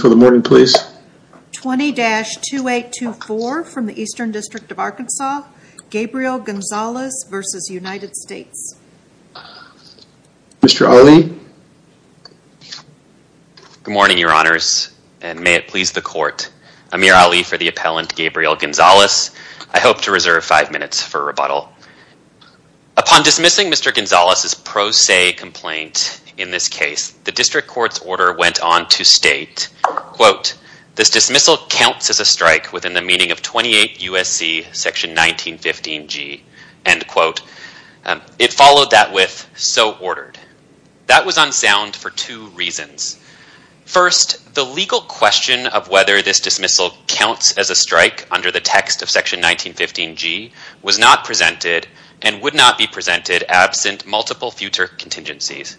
for the morning please. 20-2824 from the Eastern District of Arkansas, Gabriel Gonzalez versus United States. Mr. Ali. Good morning your honors and may it please the court. Amir Ali for the appellant Gabriel Gonzalez. I hope to reserve five minutes for rebuttal. Upon dismissing Mr. Gonzalez's pro se complaint in this case the district court's order went on to state quote this dismissal counts as a strike within the meaning of 28 USC section 1915 G and quote it followed that with so ordered. That was unsound for two reasons. First the legal question of whether this dismissal counts as a strike under the text of section 1915 G was not presented and would not be presented absent multiple future contingencies.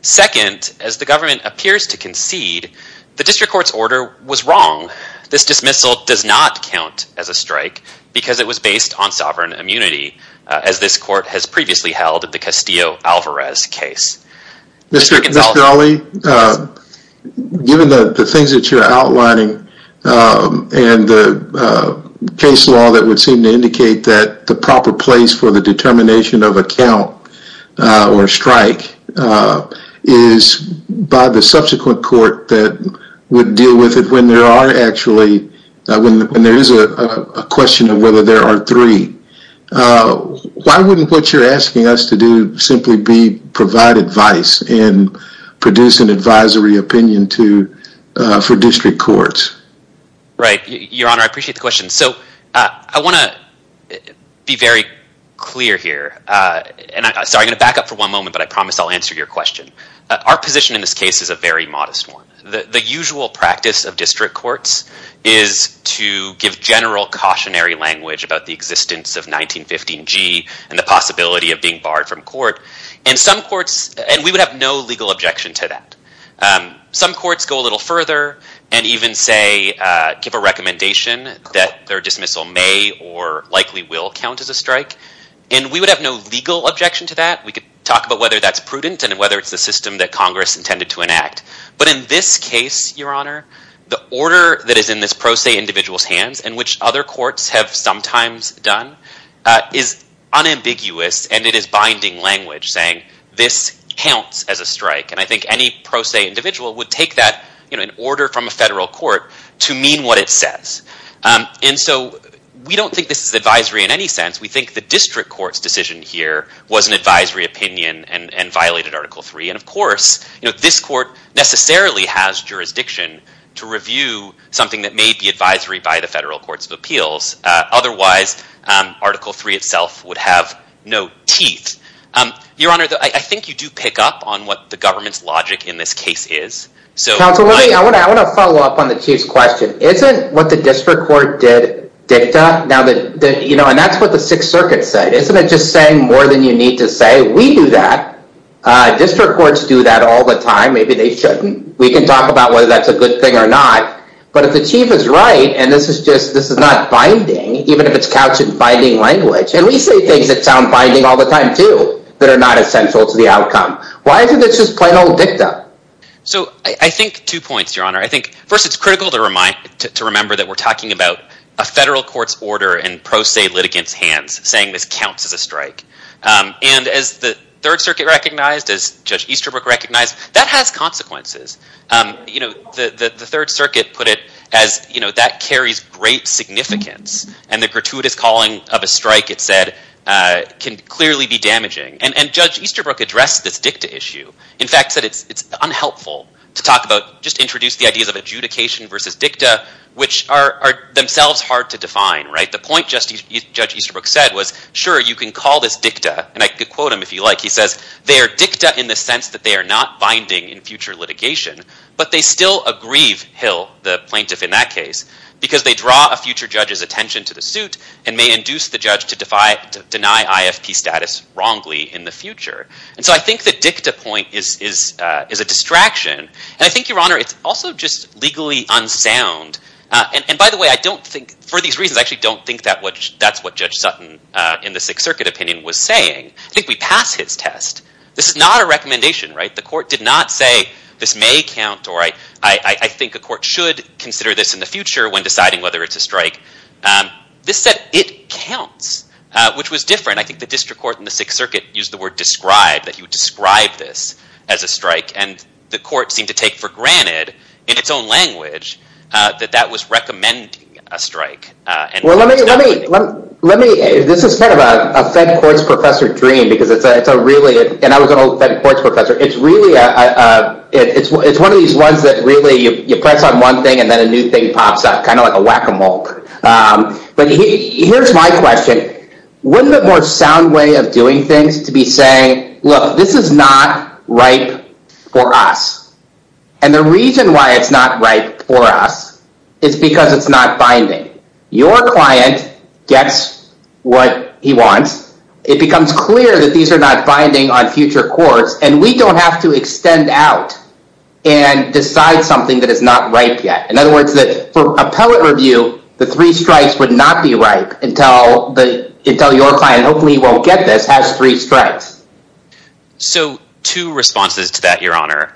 Second as the government appears to concede the district court's order was wrong. This dismissal does not count as a strike because it was based on sovereign immunity as this court has previously held at the Castillo Alvarez case. Mr. Ali given the things that you're outlining and the case law that would seem to indicate that the proper place for the determination of account or strike is by the subsequent court that would deal with it when there are actually when there is a question of whether there are three. Why wouldn't what you're asking us to do simply be provide advice and produce an advisory opinion to for district courts? Right clear here and I'm sorry I'm gonna back up for one moment but I promise I'll answer your question. Our position in this case is a very modest one. The usual practice of district courts is to give general cautionary language about the existence of 1915 G and the possibility of being barred from court and some courts and we would have no legal objection to that. Some courts go a little further and even say give a recommendation that their dismissal may or likely will count as a strike and we would have no legal objection to that. We could talk about whether that's prudent and whether it's the system that Congress intended to enact but in this case your honor the order that is in this pro se individual's hands and which other courts have sometimes done is unambiguous and it is binding language saying this counts as a strike and I think any pro se individual would take that you know in order from a federal court to mean what it says and so we don't think this is advisory in any sense. We think the district courts decision here was an advisory opinion and and violated article 3 and of course you know this court necessarily has jurisdiction to review something that may be advisory by the federal courts of appeals otherwise article 3 itself would have no teeth. Your honor I think you do pick up on what the government's logic in this case is. So I want to follow up on the Chief's question. Isn't what the district court did dicta? Now that you know and that's what the Sixth Circuit said isn't it just saying more than you need to say? We do that. District courts do that all the time maybe they shouldn't. We can talk about whether that's a good thing or not but if the Chief is right and this is just this is not binding even if it's couched in binding language and we say things that sound binding all the time too that are not essential to the outcome. Why isn't this just plain old dicta? So I think two points your critical to remind to remember that we're talking about a federal court's order and pro se litigants hands saying this counts as a strike and as the Third Circuit recognized as Judge Easterbrook recognized that has consequences. You know the the Third Circuit put it as you know that carries great significance and the gratuitous calling of a strike it said can clearly be damaging and Judge Easterbrook addressed this dicta issue. In fact said it's it's unhelpful to talk about litigation versus dicta which are themselves hard to define right the point Justice Judge Easterbrook said was sure you can call this dicta and I could quote him if you like he says they are dicta in the sense that they are not binding in future litigation but they still aggrieve Hill the plaintiff in that case because they draw a future judge's attention to the suit and may induce the judge to deny IFP status wrongly in the future and so I think the dicta point is is is a distraction and I think your honor it's also just legally unsound and by the way I don't think for these reasons I actually don't think that what that's what Judge Sutton in the Sixth Circuit opinion was saying I think we pass his test this is not a recommendation right the court did not say this may count or I I think a court should consider this in the future when deciding whether it's a strike this said it counts which was different I think the district court in the Sixth Circuit used the word described that he would describe this as a strike and the court seemed to take for granted in its own language that that was recommending a strike this is kind of a fed courts professor dream because it's a really and I was an old fed courts professor it's really a it's one of these ones that really you press on one thing and then a new thing pops up kind of like a whack-a-mole but here's my question wouldn't it more sound way of doing things to be saying this is not right for us and the reason why it's not right for us it's because it's not binding your client gets what he wants it becomes clear that these are not binding on future courts and we don't have to extend out and decide something that is not right yet in other words that for a poet review the three strikes would not be right until the until your client hopefully won't get this has three strikes so two responses to that your honor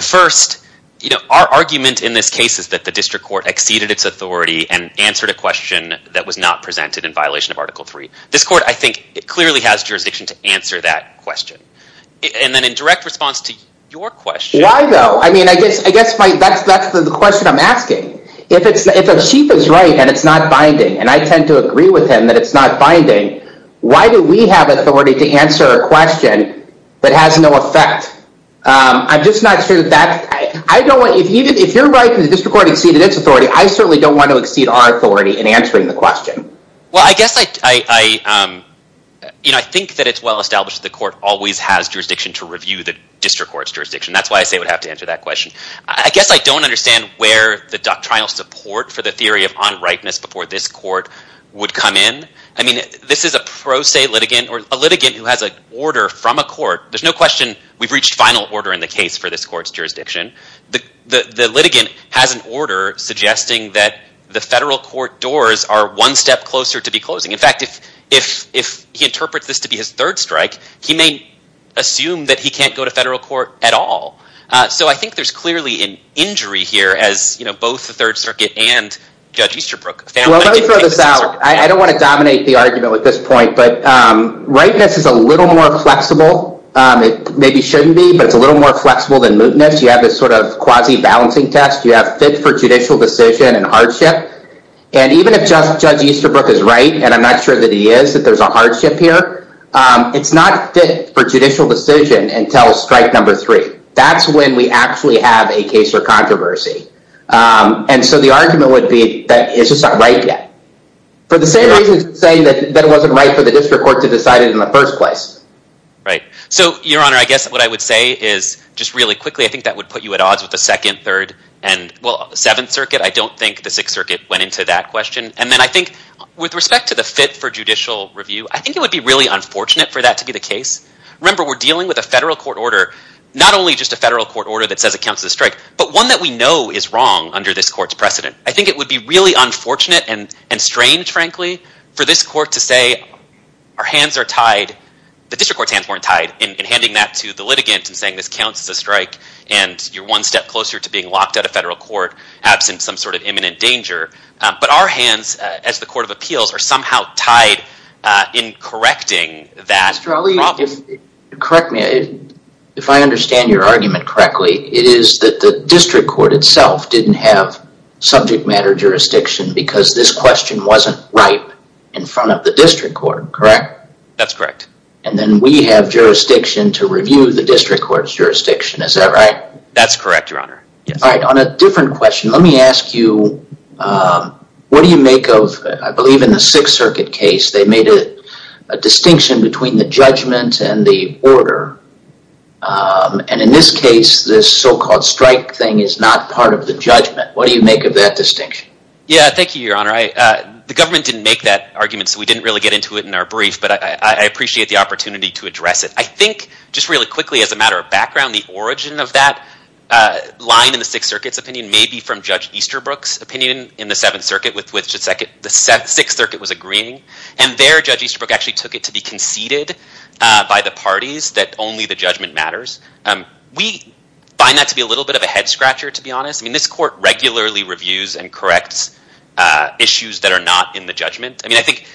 first you know our argument in this case is that the district court exceeded its authority and answered a question that was not presented in violation of article 3 this court I think it clearly has jurisdiction to answer that question and then in direct response to your question why though I mean I guess I guess right that's that's the question I'm asking if it's if a chief is right and it's not binding why do we have authority to answer a question that has no effect I'm just not sure that I don't want you to if you're right in the district court exceeded its authority I certainly don't want to exceed our authority in answering the question well I guess I you know I think that it's well established the court always has jurisdiction to review the district courts jurisdiction that's why I say would have to answer that question I guess I don't understand where the doctrinal support for the theory of this is a pro se litigant or a litigant who has a order from a court there's no question we've reached final order in the case for this courts jurisdiction the the litigant has an order suggesting that the federal court doors are one step closer to be closing in fact if if if he interprets this to be his third strike he may assume that he can't go to federal court at all so I think there's clearly an injury here as you know both the Third Circuit and judge Easterbrook I don't want to dominate the argument with this point but rightness is a little more flexible it maybe shouldn't be but it's a little more flexible than mootness you have this sort of quasi balancing test you have fit for judicial decision and hardship and even if just judge Easterbrook is right and I'm not sure that he is that there's a hardship here it's not fit for judicial decision until strike number three that's when we actually have a case or and so the argument would be that it's just not right yet for the same reason saying that that wasn't right for the district court to decide it in the first place right so your honor I guess what I would say is just really quickly I think that would put you at odds with the second third and well the Seventh Circuit I don't think the Sixth Circuit went into that question and then I think with respect to the fit for judicial review I think it would be really unfortunate for that to be the case remember we're dealing with a federal court order not only just a federal court order that says it counts as a strike but one that we know is wrong under this court's precedent I think it would be really unfortunate and and strange frankly for this court to say our hands are tied the district court's hands weren't tied in handing that to the litigant and saying this counts as a strike and you're one step closer to being locked out of federal court absent some sort of imminent danger but our hands as the Court of Appeals are somehow tied in correcting that probably correct me if I understand your argument correctly it is that the district court itself didn't have subject matter jurisdiction because this question wasn't right in front of the district court correct that's correct and then we have jurisdiction to review the district court's jurisdiction is that right that's correct your honor all right on a different question let me ask you what do you make of I believe in the Sixth Circuit case they made a distinction between the judgment and the order and in this case this so-called strike thing is not part of the judgment what do you make of that distinction yeah thank you your honor I the government didn't make that argument so we didn't really get into it in our brief but I appreciate the opportunity to address it I think just really quickly as a matter of background the origin of that line in the Sixth Circuit's opinion may be from Judge Easterbrook's opinion in the Seventh Circuit with which the Sixth Circuit was agreeing and there Judge Easterbrook actually took it to be conceded by the parties that only the judgment matters we find that to be a little bit of a head-scratcher to be honest I mean this court regularly reviews and corrects issues that are not in the judgment I mean I think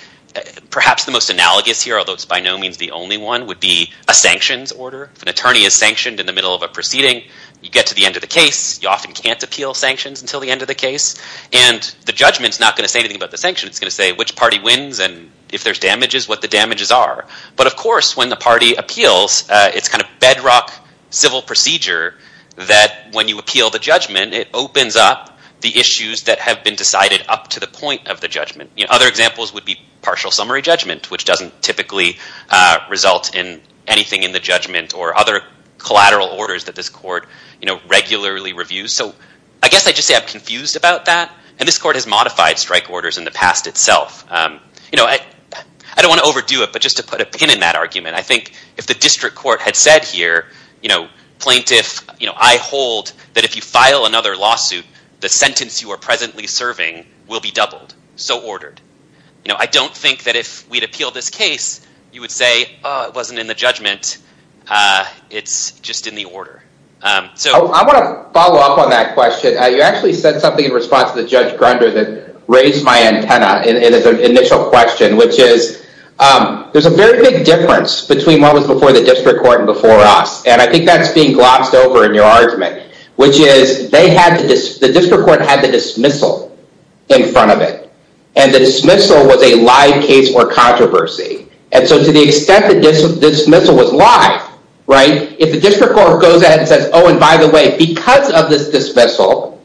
perhaps the most analogous here although it's by no means the only one would be a sanctions order if an attorney is sanctioned in the middle of a proceeding you get to the end of the case you often can't appeal sanctions until the end of the case and the judgments not going to say anything about the sanction it's going to say which party wins and if there's damages what the damages are but of course when the party appeals it's kind of bedrock civil procedure that when you appeal the judgment it opens up the issues that have been decided up to the point of the judgment you know other examples would be partial summary judgment which doesn't typically result in anything in the judgment or other collateral orders that this court you know regularly reviews so I guess I just say I'm confused about that and this court has modified strike orders in the past itself you know I don't want to overdo it but just to put a pin in that argument I think if the district court had said here you know plaintiff you know I hold that if you file another lawsuit the sentence you are presently serving will be doubled so ordered you know I don't think that if we'd appeal this case you would say it wasn't in the judgment it's just in the order so I want to follow up on that question you actually said something in response to the judge Grunder that raised my antenna in an initial question which is there's a very big difference between what was before the district court and before us and I think that's being glossed over in your argument which is they had this the district court had the dismissal in front of it and the dismissal was a live case or controversy and so to the extent that this dismissal was live right if the district court goes ahead and says oh and by the way because of this dismissal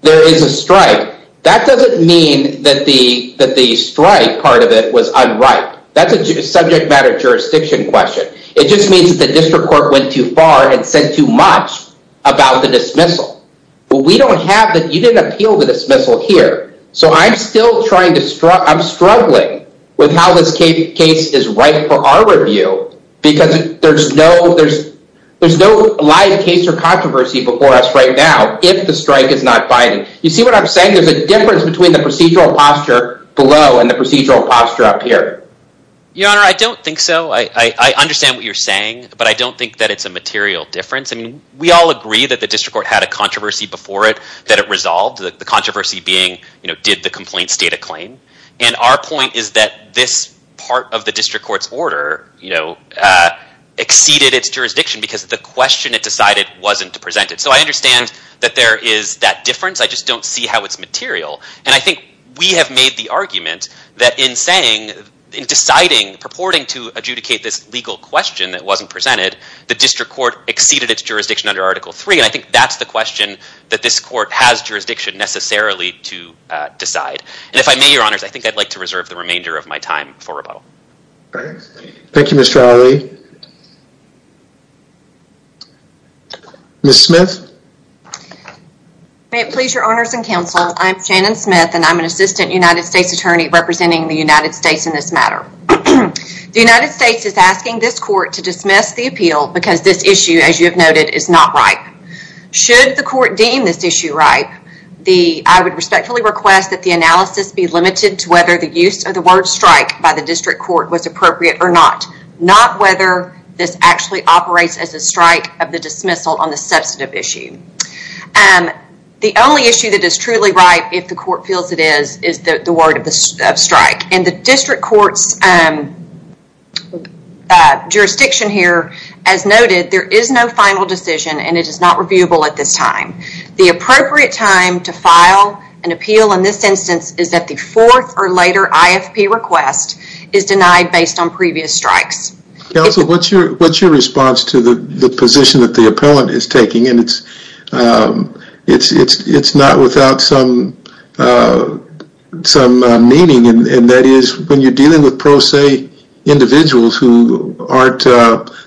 there is a strike that doesn't mean that the that the strike part of it was unripe that's a subject matter jurisdiction question it just means that the district court went too far and said too much about the dismissal but we don't have that you didn't appeal the dismissal here so I'm still trying to start I'm struggling with how this case is right for our review because there's no there's there's no live case or controversy before us right now if the strike is not binding you see what I'm saying there's a difference between the procedural posture below and the procedural posture up here your honor I don't think so I understand what you're saying but I don't think that it's a material difference I mean we all agree that the district court had a controversy before it that it resolved the controversy being you know did the complaint state a claim and our point is that this part of the district court's order you know exceeded its jurisdiction because the question it decided wasn't presented so I understand that there is that difference I just don't see how it's material and I think we have made the argument that in saying in deciding purporting to adjudicate this legal question that wasn't presented the district court exceeded its jurisdiction under article 3 and I think that's the question that this court has jurisdiction necessarily to decide and if I may your honors I think I'd like to reserve the remainder of my time for questions. Ms. Smith. May it please your honors and counsel I'm Shannon Smith and I'm an assistant United States Attorney representing the United States in this matter. The United States is asking this court to dismiss the appeal because this issue as you have noted is not right. Should the court deem this issue right the I would respectfully request that the analysis be limited to whether the use of the word strike by the district court was appropriate or not. Not whether this actually operates as a strike of the dismissal on the substantive issue and the only issue that is truly right if the court feels it is is that the word of the strike and the district courts jurisdiction here as noted there is no final decision and it is not reviewable at this time. The appropriate time to file an appeal in this instance is that the fourth or later IFP request is denied based on previous strikes. Counsel what's your what's your response to the position that the appellant is taking and it's it's it's it's not without some some meaning and that is when you're dealing with pro se individuals who aren't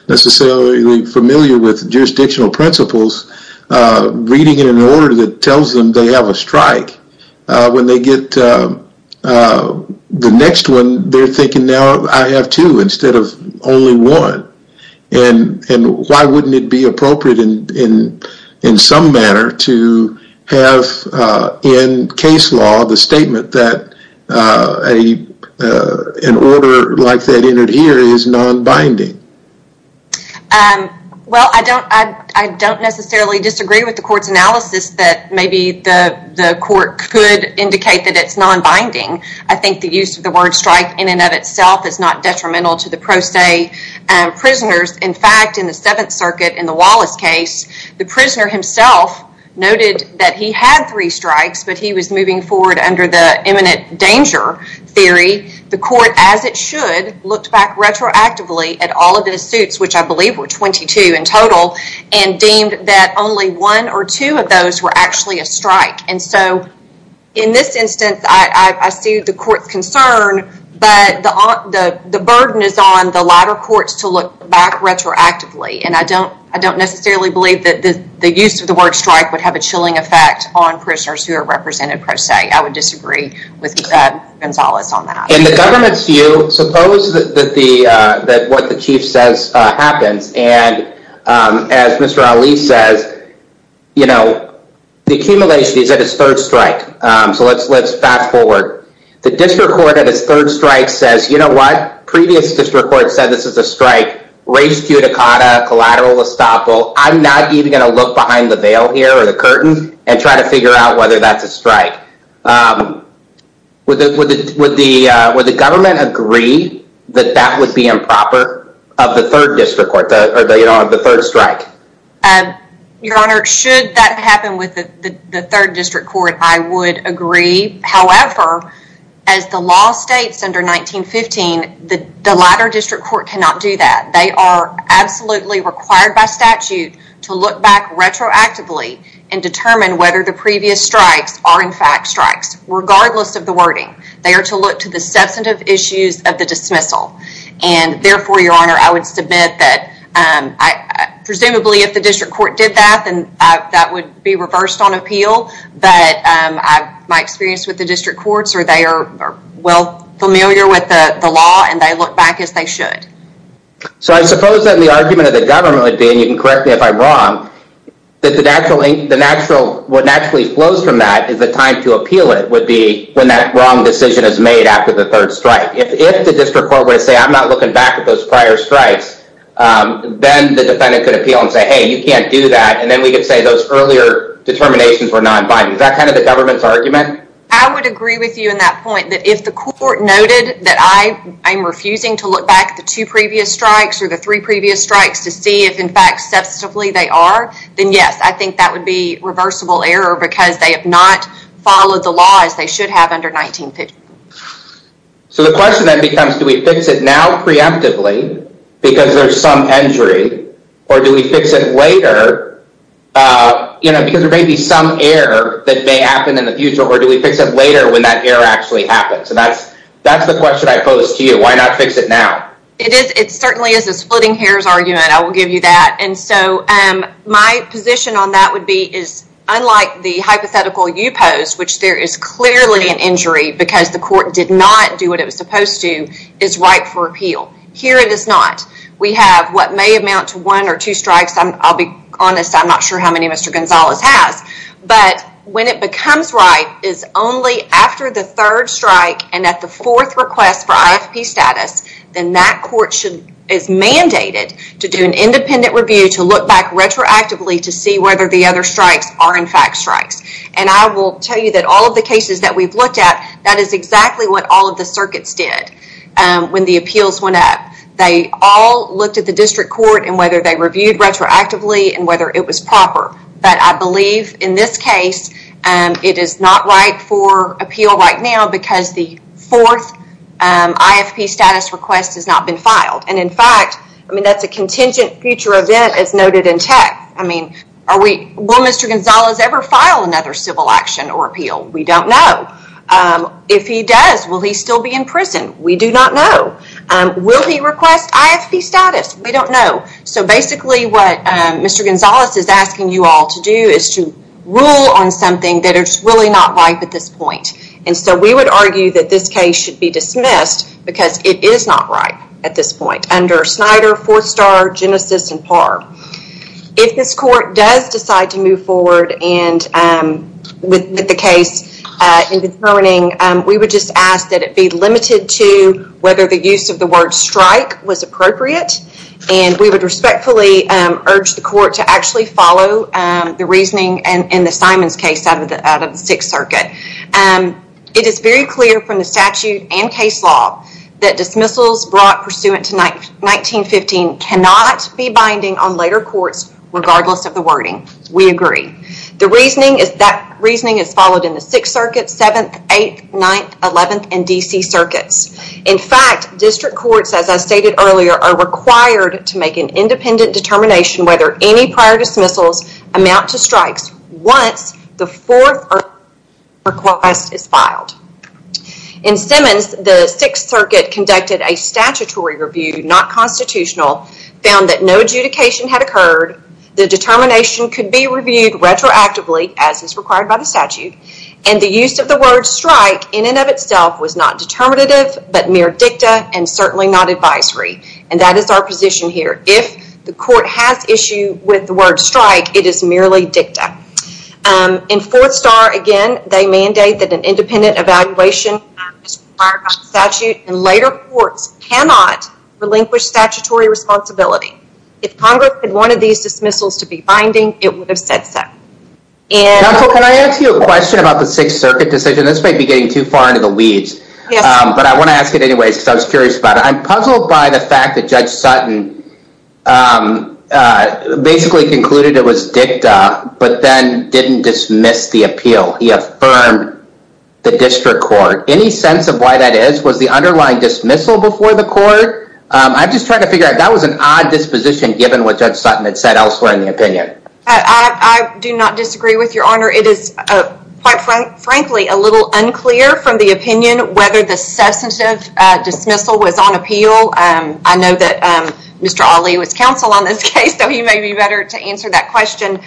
necessarily familiar with jurisdictional principles reading in an order that tells them they have a strike when they get the next one they're thinking now I have two instead of only one and and why wouldn't it be appropriate in in in some manner to have in case law the statement that a an order like that entered here is non-binding? Well I don't I don't necessarily disagree with the court's analysis that maybe the the court could indicate that it's non-binding I think the use of the word strike in and of itself is not detrimental to the pro se prisoners in fact in the Seventh Circuit in the Wallace case the prisoner himself noted that he had three strikes but he was moving forward under the imminent danger theory the court as it should looked back retroactively at all of the suits which I believe were 22 in total and deemed that only one or two of those were actually a strike and so in this instance I see the court's concern but the the the burden is on the latter courts to look back retroactively and I don't I don't necessarily believe that the the use of the word strike would have a chilling effect on prisoners who are represented per se. I would disagree with Gonzales on that. In the government's view suppose that the that what the chief says happens and as Mr. Ali says you know the accumulation is at its third strike so let's let's fast forward the district court at its third strike says you know what previous district court said this is a strike, reis cuticata, collateral estoppel, I'm not even gonna look behind the veil here or the curtain and try to figure out whether that's a strike. Would the government agree that that would be improper of the third district court or the third strike? Your honor should that happen with the third district court I would agree however as the law states under 1915 that the latter district court cannot do that they are absolutely required by statute to look back retroactively and determine whether the previous strikes are in fact strikes regardless of the wording. They are to look to the substantive issues of the dismissal and therefore your honor I would submit that I presumably if the district court did that and that would be reversed on appeal but my experience with the district courts or they are well familiar with the law and they look back as they should. So I suppose that the argument of the government would be, and you can correct me if I'm wrong, that what naturally flows from that is the time to appeal it would be when that wrong decision is made after the third strike. If the district court were to say I'm not looking back at those prior strikes then the defendant could appeal and say hey you can't do that and then we could say those earlier determinations were non-binding. Is that kind of the government's argument? I would agree with you in that point that if the court noted that I am refusing to look back the two previous strikes or the three previous strikes to see if in fact substantively they are then yes I think that would be reversible error because they have not followed the law as they should have under 1915. So the question then becomes do we fix it now preemptively because there's some injury or do we fix it later you know because there may be some error that may happen in the future or do we fix it later when that error actually happens and that's that's the question I pose to you why not fix it now? It is it certainly is a splitting hairs argument I will give you that and so my position on that would be is unlike the hypothetical you posed which there is clearly an injury because the court did not do what it was supposed to is right for appeal. Here it is not. We have what may amount to one or two but when it becomes right is only after the third strike and at the fourth request for IFP status then that court should is mandated to do an independent review to look back retroactively to see whether the other strikes are in fact strikes and I will tell you that all of the cases that we've looked at that is exactly what all of the circuits did when the appeals went up. They all looked at the district court and whether they reviewed retroactively and whether it was proper but I believe in this case and it is not right for appeal right now because the fourth IFP status request has not been filed and in fact I mean that's a contingent future event as noted in tech. I mean are we will Mr. Gonzalez ever file another civil action or appeal? We don't know. If he does will he still be in prison? We do not know. Will he request IFP status? We don't know. So basically what Mr. Gonzalez is asking you all to do is to rule on something that it's really not right at this point and so we would argue that this case should be dismissed because it is not right at this point under Snyder, Forstar, Genesis and Parr. If this court does decide to move forward and with the case in determining we would just ask that it be limited to whether the use of word strike was appropriate and we would respectfully urge the court to actually follow the reasoning and in the Simons case out of the out of the Sixth Circuit. It is very clear from the statute and case law that dismissals brought pursuant to 1915 cannot be binding on later courts regardless of the wording. We agree. The reasoning is that reasoning is followed in the Sixth Circuits. In fact district courts as I stated earlier are required to make an independent determination whether any prior dismissals amount to strikes once the fourth request is filed. In Simons the Sixth Circuit conducted a statutory review not constitutional found that no adjudication had occurred. The determination could be reviewed retroactively as is required by the statute and the use of the word strike in and of itself was not determined but mere dicta and certainly not advisory and that is our position here. If the court has issue with the word strike it is merely dicta. In Forstar again they mandate that an independent evaluation is required by the statute and later courts cannot relinquish statutory responsibility. If Congress had wanted these dismissals to be binding it would have said so. Counsel can I ask you a question about the Sixth Circuit decision. This might be getting too far into the weeds but I want to ask it anyways because I was curious about it. I'm puzzled by the fact that Judge Sutton basically concluded it was dicta but then didn't dismiss the appeal. He affirmed the district court. Any sense of why that is? Was the underlying dismissal before the court? I'm just trying to figure out that was an odd disposition given what Judge Sutton had said elsewhere in the opinion. I do not a little unclear from the opinion whether the substantive dismissal was on appeal. I know that Mr. Ali was counsel on this case so he may be better to answer that question.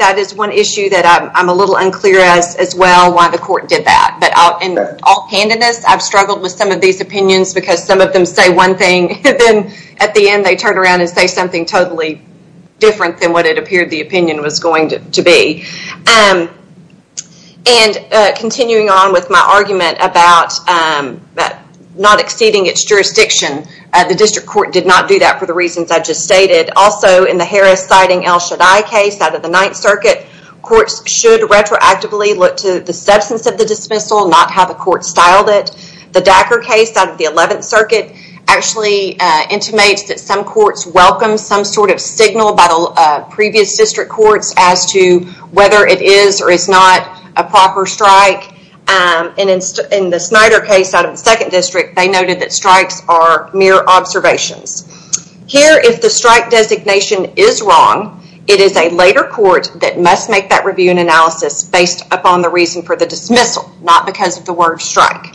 That is one issue that I'm a little unclear as as well why the court did that but in all candidness I've struggled with some of these opinions because some of them say one thing and then at the end they turn around and say something totally different than what it appeared the and continuing on with my argument about that not exceeding its jurisdiction. The district court did not do that for the reasons I just stated. Also in the Harris-Siding-El Shaddai case out of the Ninth Circuit courts should retroactively look to the substance of the dismissal not how the court styled it. The Dacker case out of the Eleventh Circuit actually intimates that some courts welcome some sort of signal by the previous district courts as to whether it is or is not a proper strike and in the Snyder case out of the Second District they noted that strikes are mere observations. Here if the strike designation is wrong it is a later court that must make that review and analysis based upon the reason for the dismissal not because of the word strike.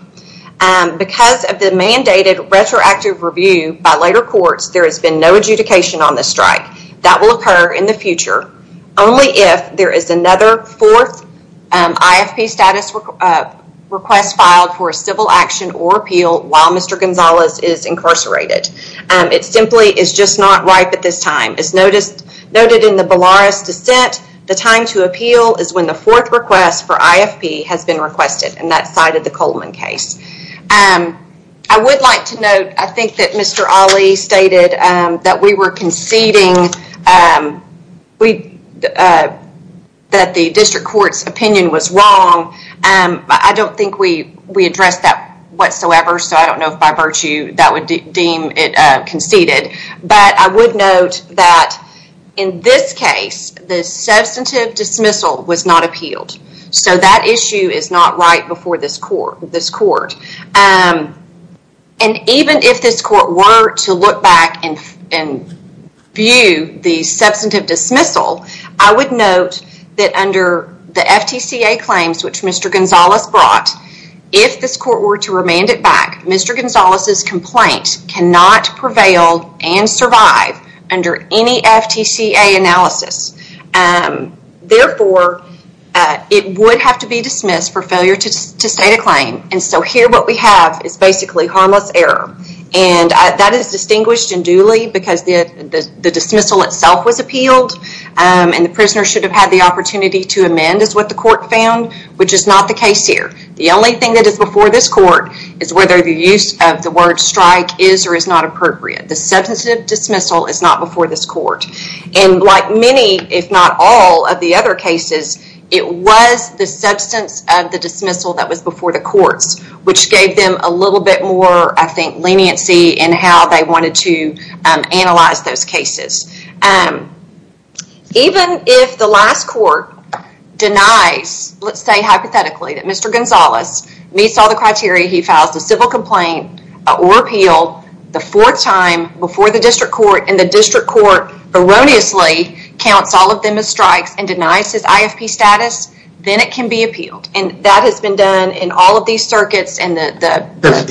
Because of the mandated retroactive review by later courts there has been no adjudication on the strike. That will occur in the future only if there is another fourth IFP status request filed for a civil action or appeal while Mr. Gonzalez is incarcerated. It simply is just not right at this time. It's noticed noted in the Belarus dissent the time to appeal is when the fourth request for IFP has been requested and that side of the Coleman case. I would like to note I think that Mr. Ali stated that we were conceding that the district courts opinion was wrong and I don't think we we addressed that whatsoever so I don't know if by virtue that would deem it conceded but I would note that in this case the substantive dismissal was not appealed so that issue is not right before this court. And even if this court were to look back and view the substantive dismissal I would note that under the FTCA claims which Mr. Gonzalez brought if this court were to remand it back Mr. Gonzalez's complaint cannot prevail and survive under any FTCA analysis. Therefore it would have to be dismissed for failure to state a claim and so here what we have is basically harmless error and that is distinguished and duly because the dismissal itself was appealed and the prisoner should have had the opportunity to amend is what the court found which is not the case here. The only thing that is before this court is whether the use of the word strike is or is not appropriate. The substantive dismissal is not before this court and like many if not all of the other cases it was the substance of the dismissal that was before the courts which gave them a little bit more I think leniency and how they wanted to analyze those cases. Even if the last court denies let's say hypothetically that Mr. Gonzalez meets all the criteria he files the civil complaint or appeal the fourth time before the district court and the district court erroneously counts all of them as strikes and denies his IFP status then it can be appealed and that has been done in all of these circuits and the...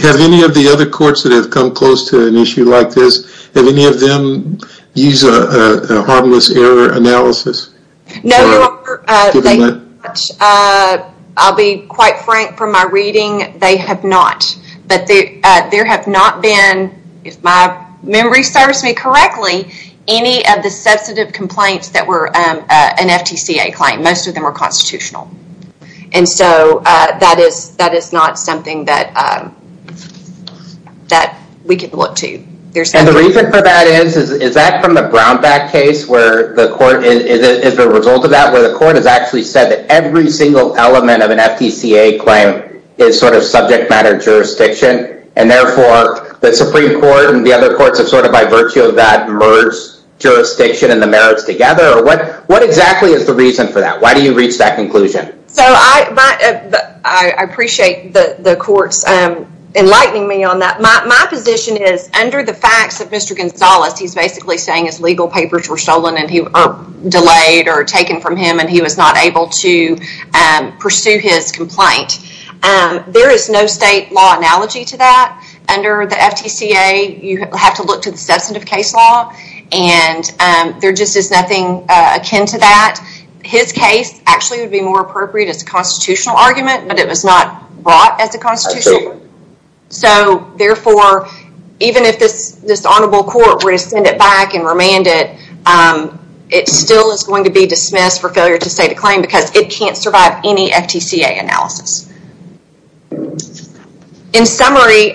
Have any of the other courts that have come close to an issue like this have any of them use a harmless error analysis? No your honor. I'll be quite frank from my reading they have not but they there have not been if my memory serves me correctly any of the substantive complaints that were an FTCA claim most of them are constitutional and so that is that is not something that that we can look to. And the reason for that is is that from the Brownback case where the court is a result of that where the court has actually said that every single element of an FTCA claim is sort of subject matter jurisdiction and therefore the Supreme Court and the other courts have sort of by virtue of that merged jurisdiction and the merits together or what what exactly is the reason for that? Why do you reach that conclusion? So I appreciate the the courts enlightening me on that. My position is under the facts of Mr. Gonzalez he's basically saying his legal papers were stolen and he delayed or taken from him and he was not able to pursue his complaint. There is no state law analogy to that. Under the FTCA you have to look to the substantive case law and there just is nothing akin to that. His case actually would be more appropriate as a constitutional argument but it was not brought as a constitutional. So therefore even if this this honorable court were to send it back and remand it it still is going to be dismissed for failure to state a claim because it In summary,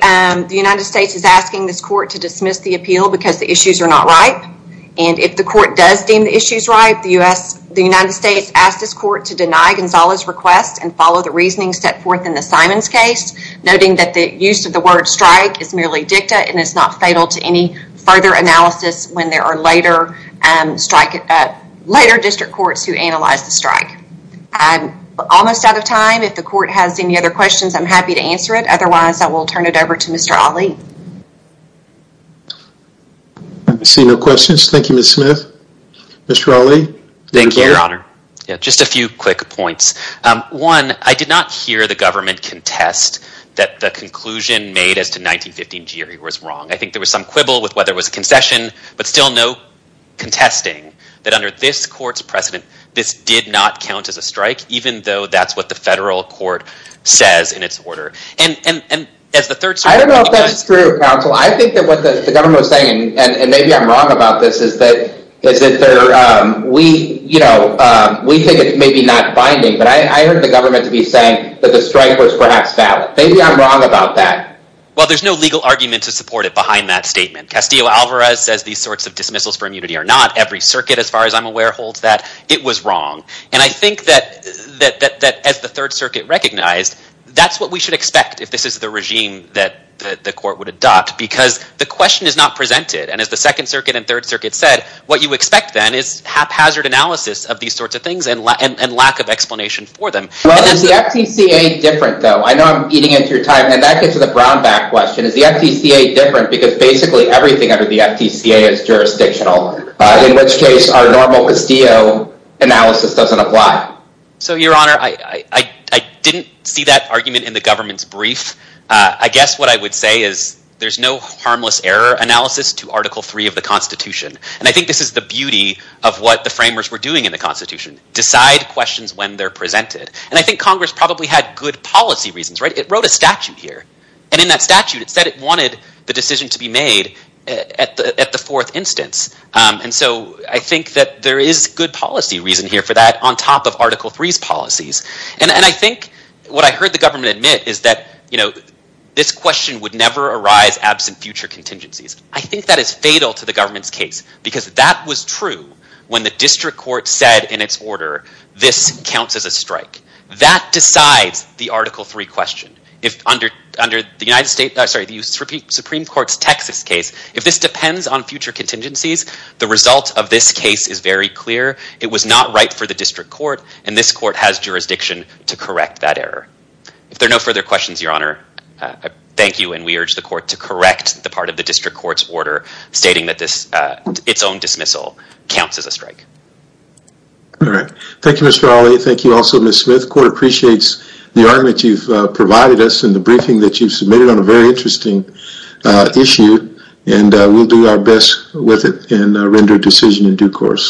the United States is asking this court to dismiss the appeal because the issues are not right and if the court does deem the issues right the US the United States asked this court to deny Gonzalez request and follow the reasoning set forth in the Simons case noting that the use of the word strike is merely dicta and it's not fatal to any further analysis when there are later and strike it at later district courts who analyze the strike. I'm almost out of time if the court has any other questions I'm happy to answer it otherwise I will turn it over to Mr. Ali. I see no questions, thank you Ms. Smith. Mr. Ali. Thank you your honor. Just a few quick points. One, I did not hear the government contest that the conclusion made as to 1915 GRE was wrong. I think there was some quibble with whether it was a concession but still no contesting that under this court's precedent this did not count as a strike even though that's what the federal court says in its order. I don't know if that's true counsel. I think that what the government was saying, and maybe I'm wrong about this, is that we think it's maybe not binding but I heard the government to be saying that the strike was perhaps valid. Maybe I'm wrong about that. Well there's no legal argument to support it behind that statement. Castillo-Alvarez says these sorts of dismissals for immunity are not. Every circuit as far as I'm aware holds that it was wrong and I think that as the Third Circuit recognized that's what we should expect if this is the regime that the court would adopt because the question is not presented and as the Second Circuit and Third Circuit said what you expect then is haphazard analysis of these sorts of things and lack of explanation for them. Well is the FTCA different though? I know I'm eating into your time and that gets to the Brownback question. Is the FTCA different because basically everything under the FTCA is jurisdictional in which case our normal Castillo analysis doesn't apply. So your honor, I didn't see that argument in the government's brief. I guess what I would say is there's no harmless error analysis to Article 3 of the Constitution and I think this is the beauty of what the framers were doing in the Constitution. Decide questions when they're presented and I think Congress probably had good policy reasons, right? It wrote a statute here and in that statute it said it I think that there is good policy reason here for that on top of Article 3's policies and I think what I heard the government admit is that you know this question would never arise absent future contingencies. I think that is fatal to the government's case because that was true when the district court said in its order this counts as a strike. That decides the Article 3 question. If under under the United States, sorry the Supreme Court's Texas case, if this case is very clear, it was not right for the district court and this court has jurisdiction to correct that error. If there are no further questions, your honor, thank you and we urge the court to correct the part of the district court's order stating that this its own dismissal counts as a strike. All right. Thank you, Mr. Ali. Thank you also, Ms. Smith. Court appreciates the argument you've provided us in the briefing that you've submitted on a very interesting issue and we'll do our best with it and render a decision in due course.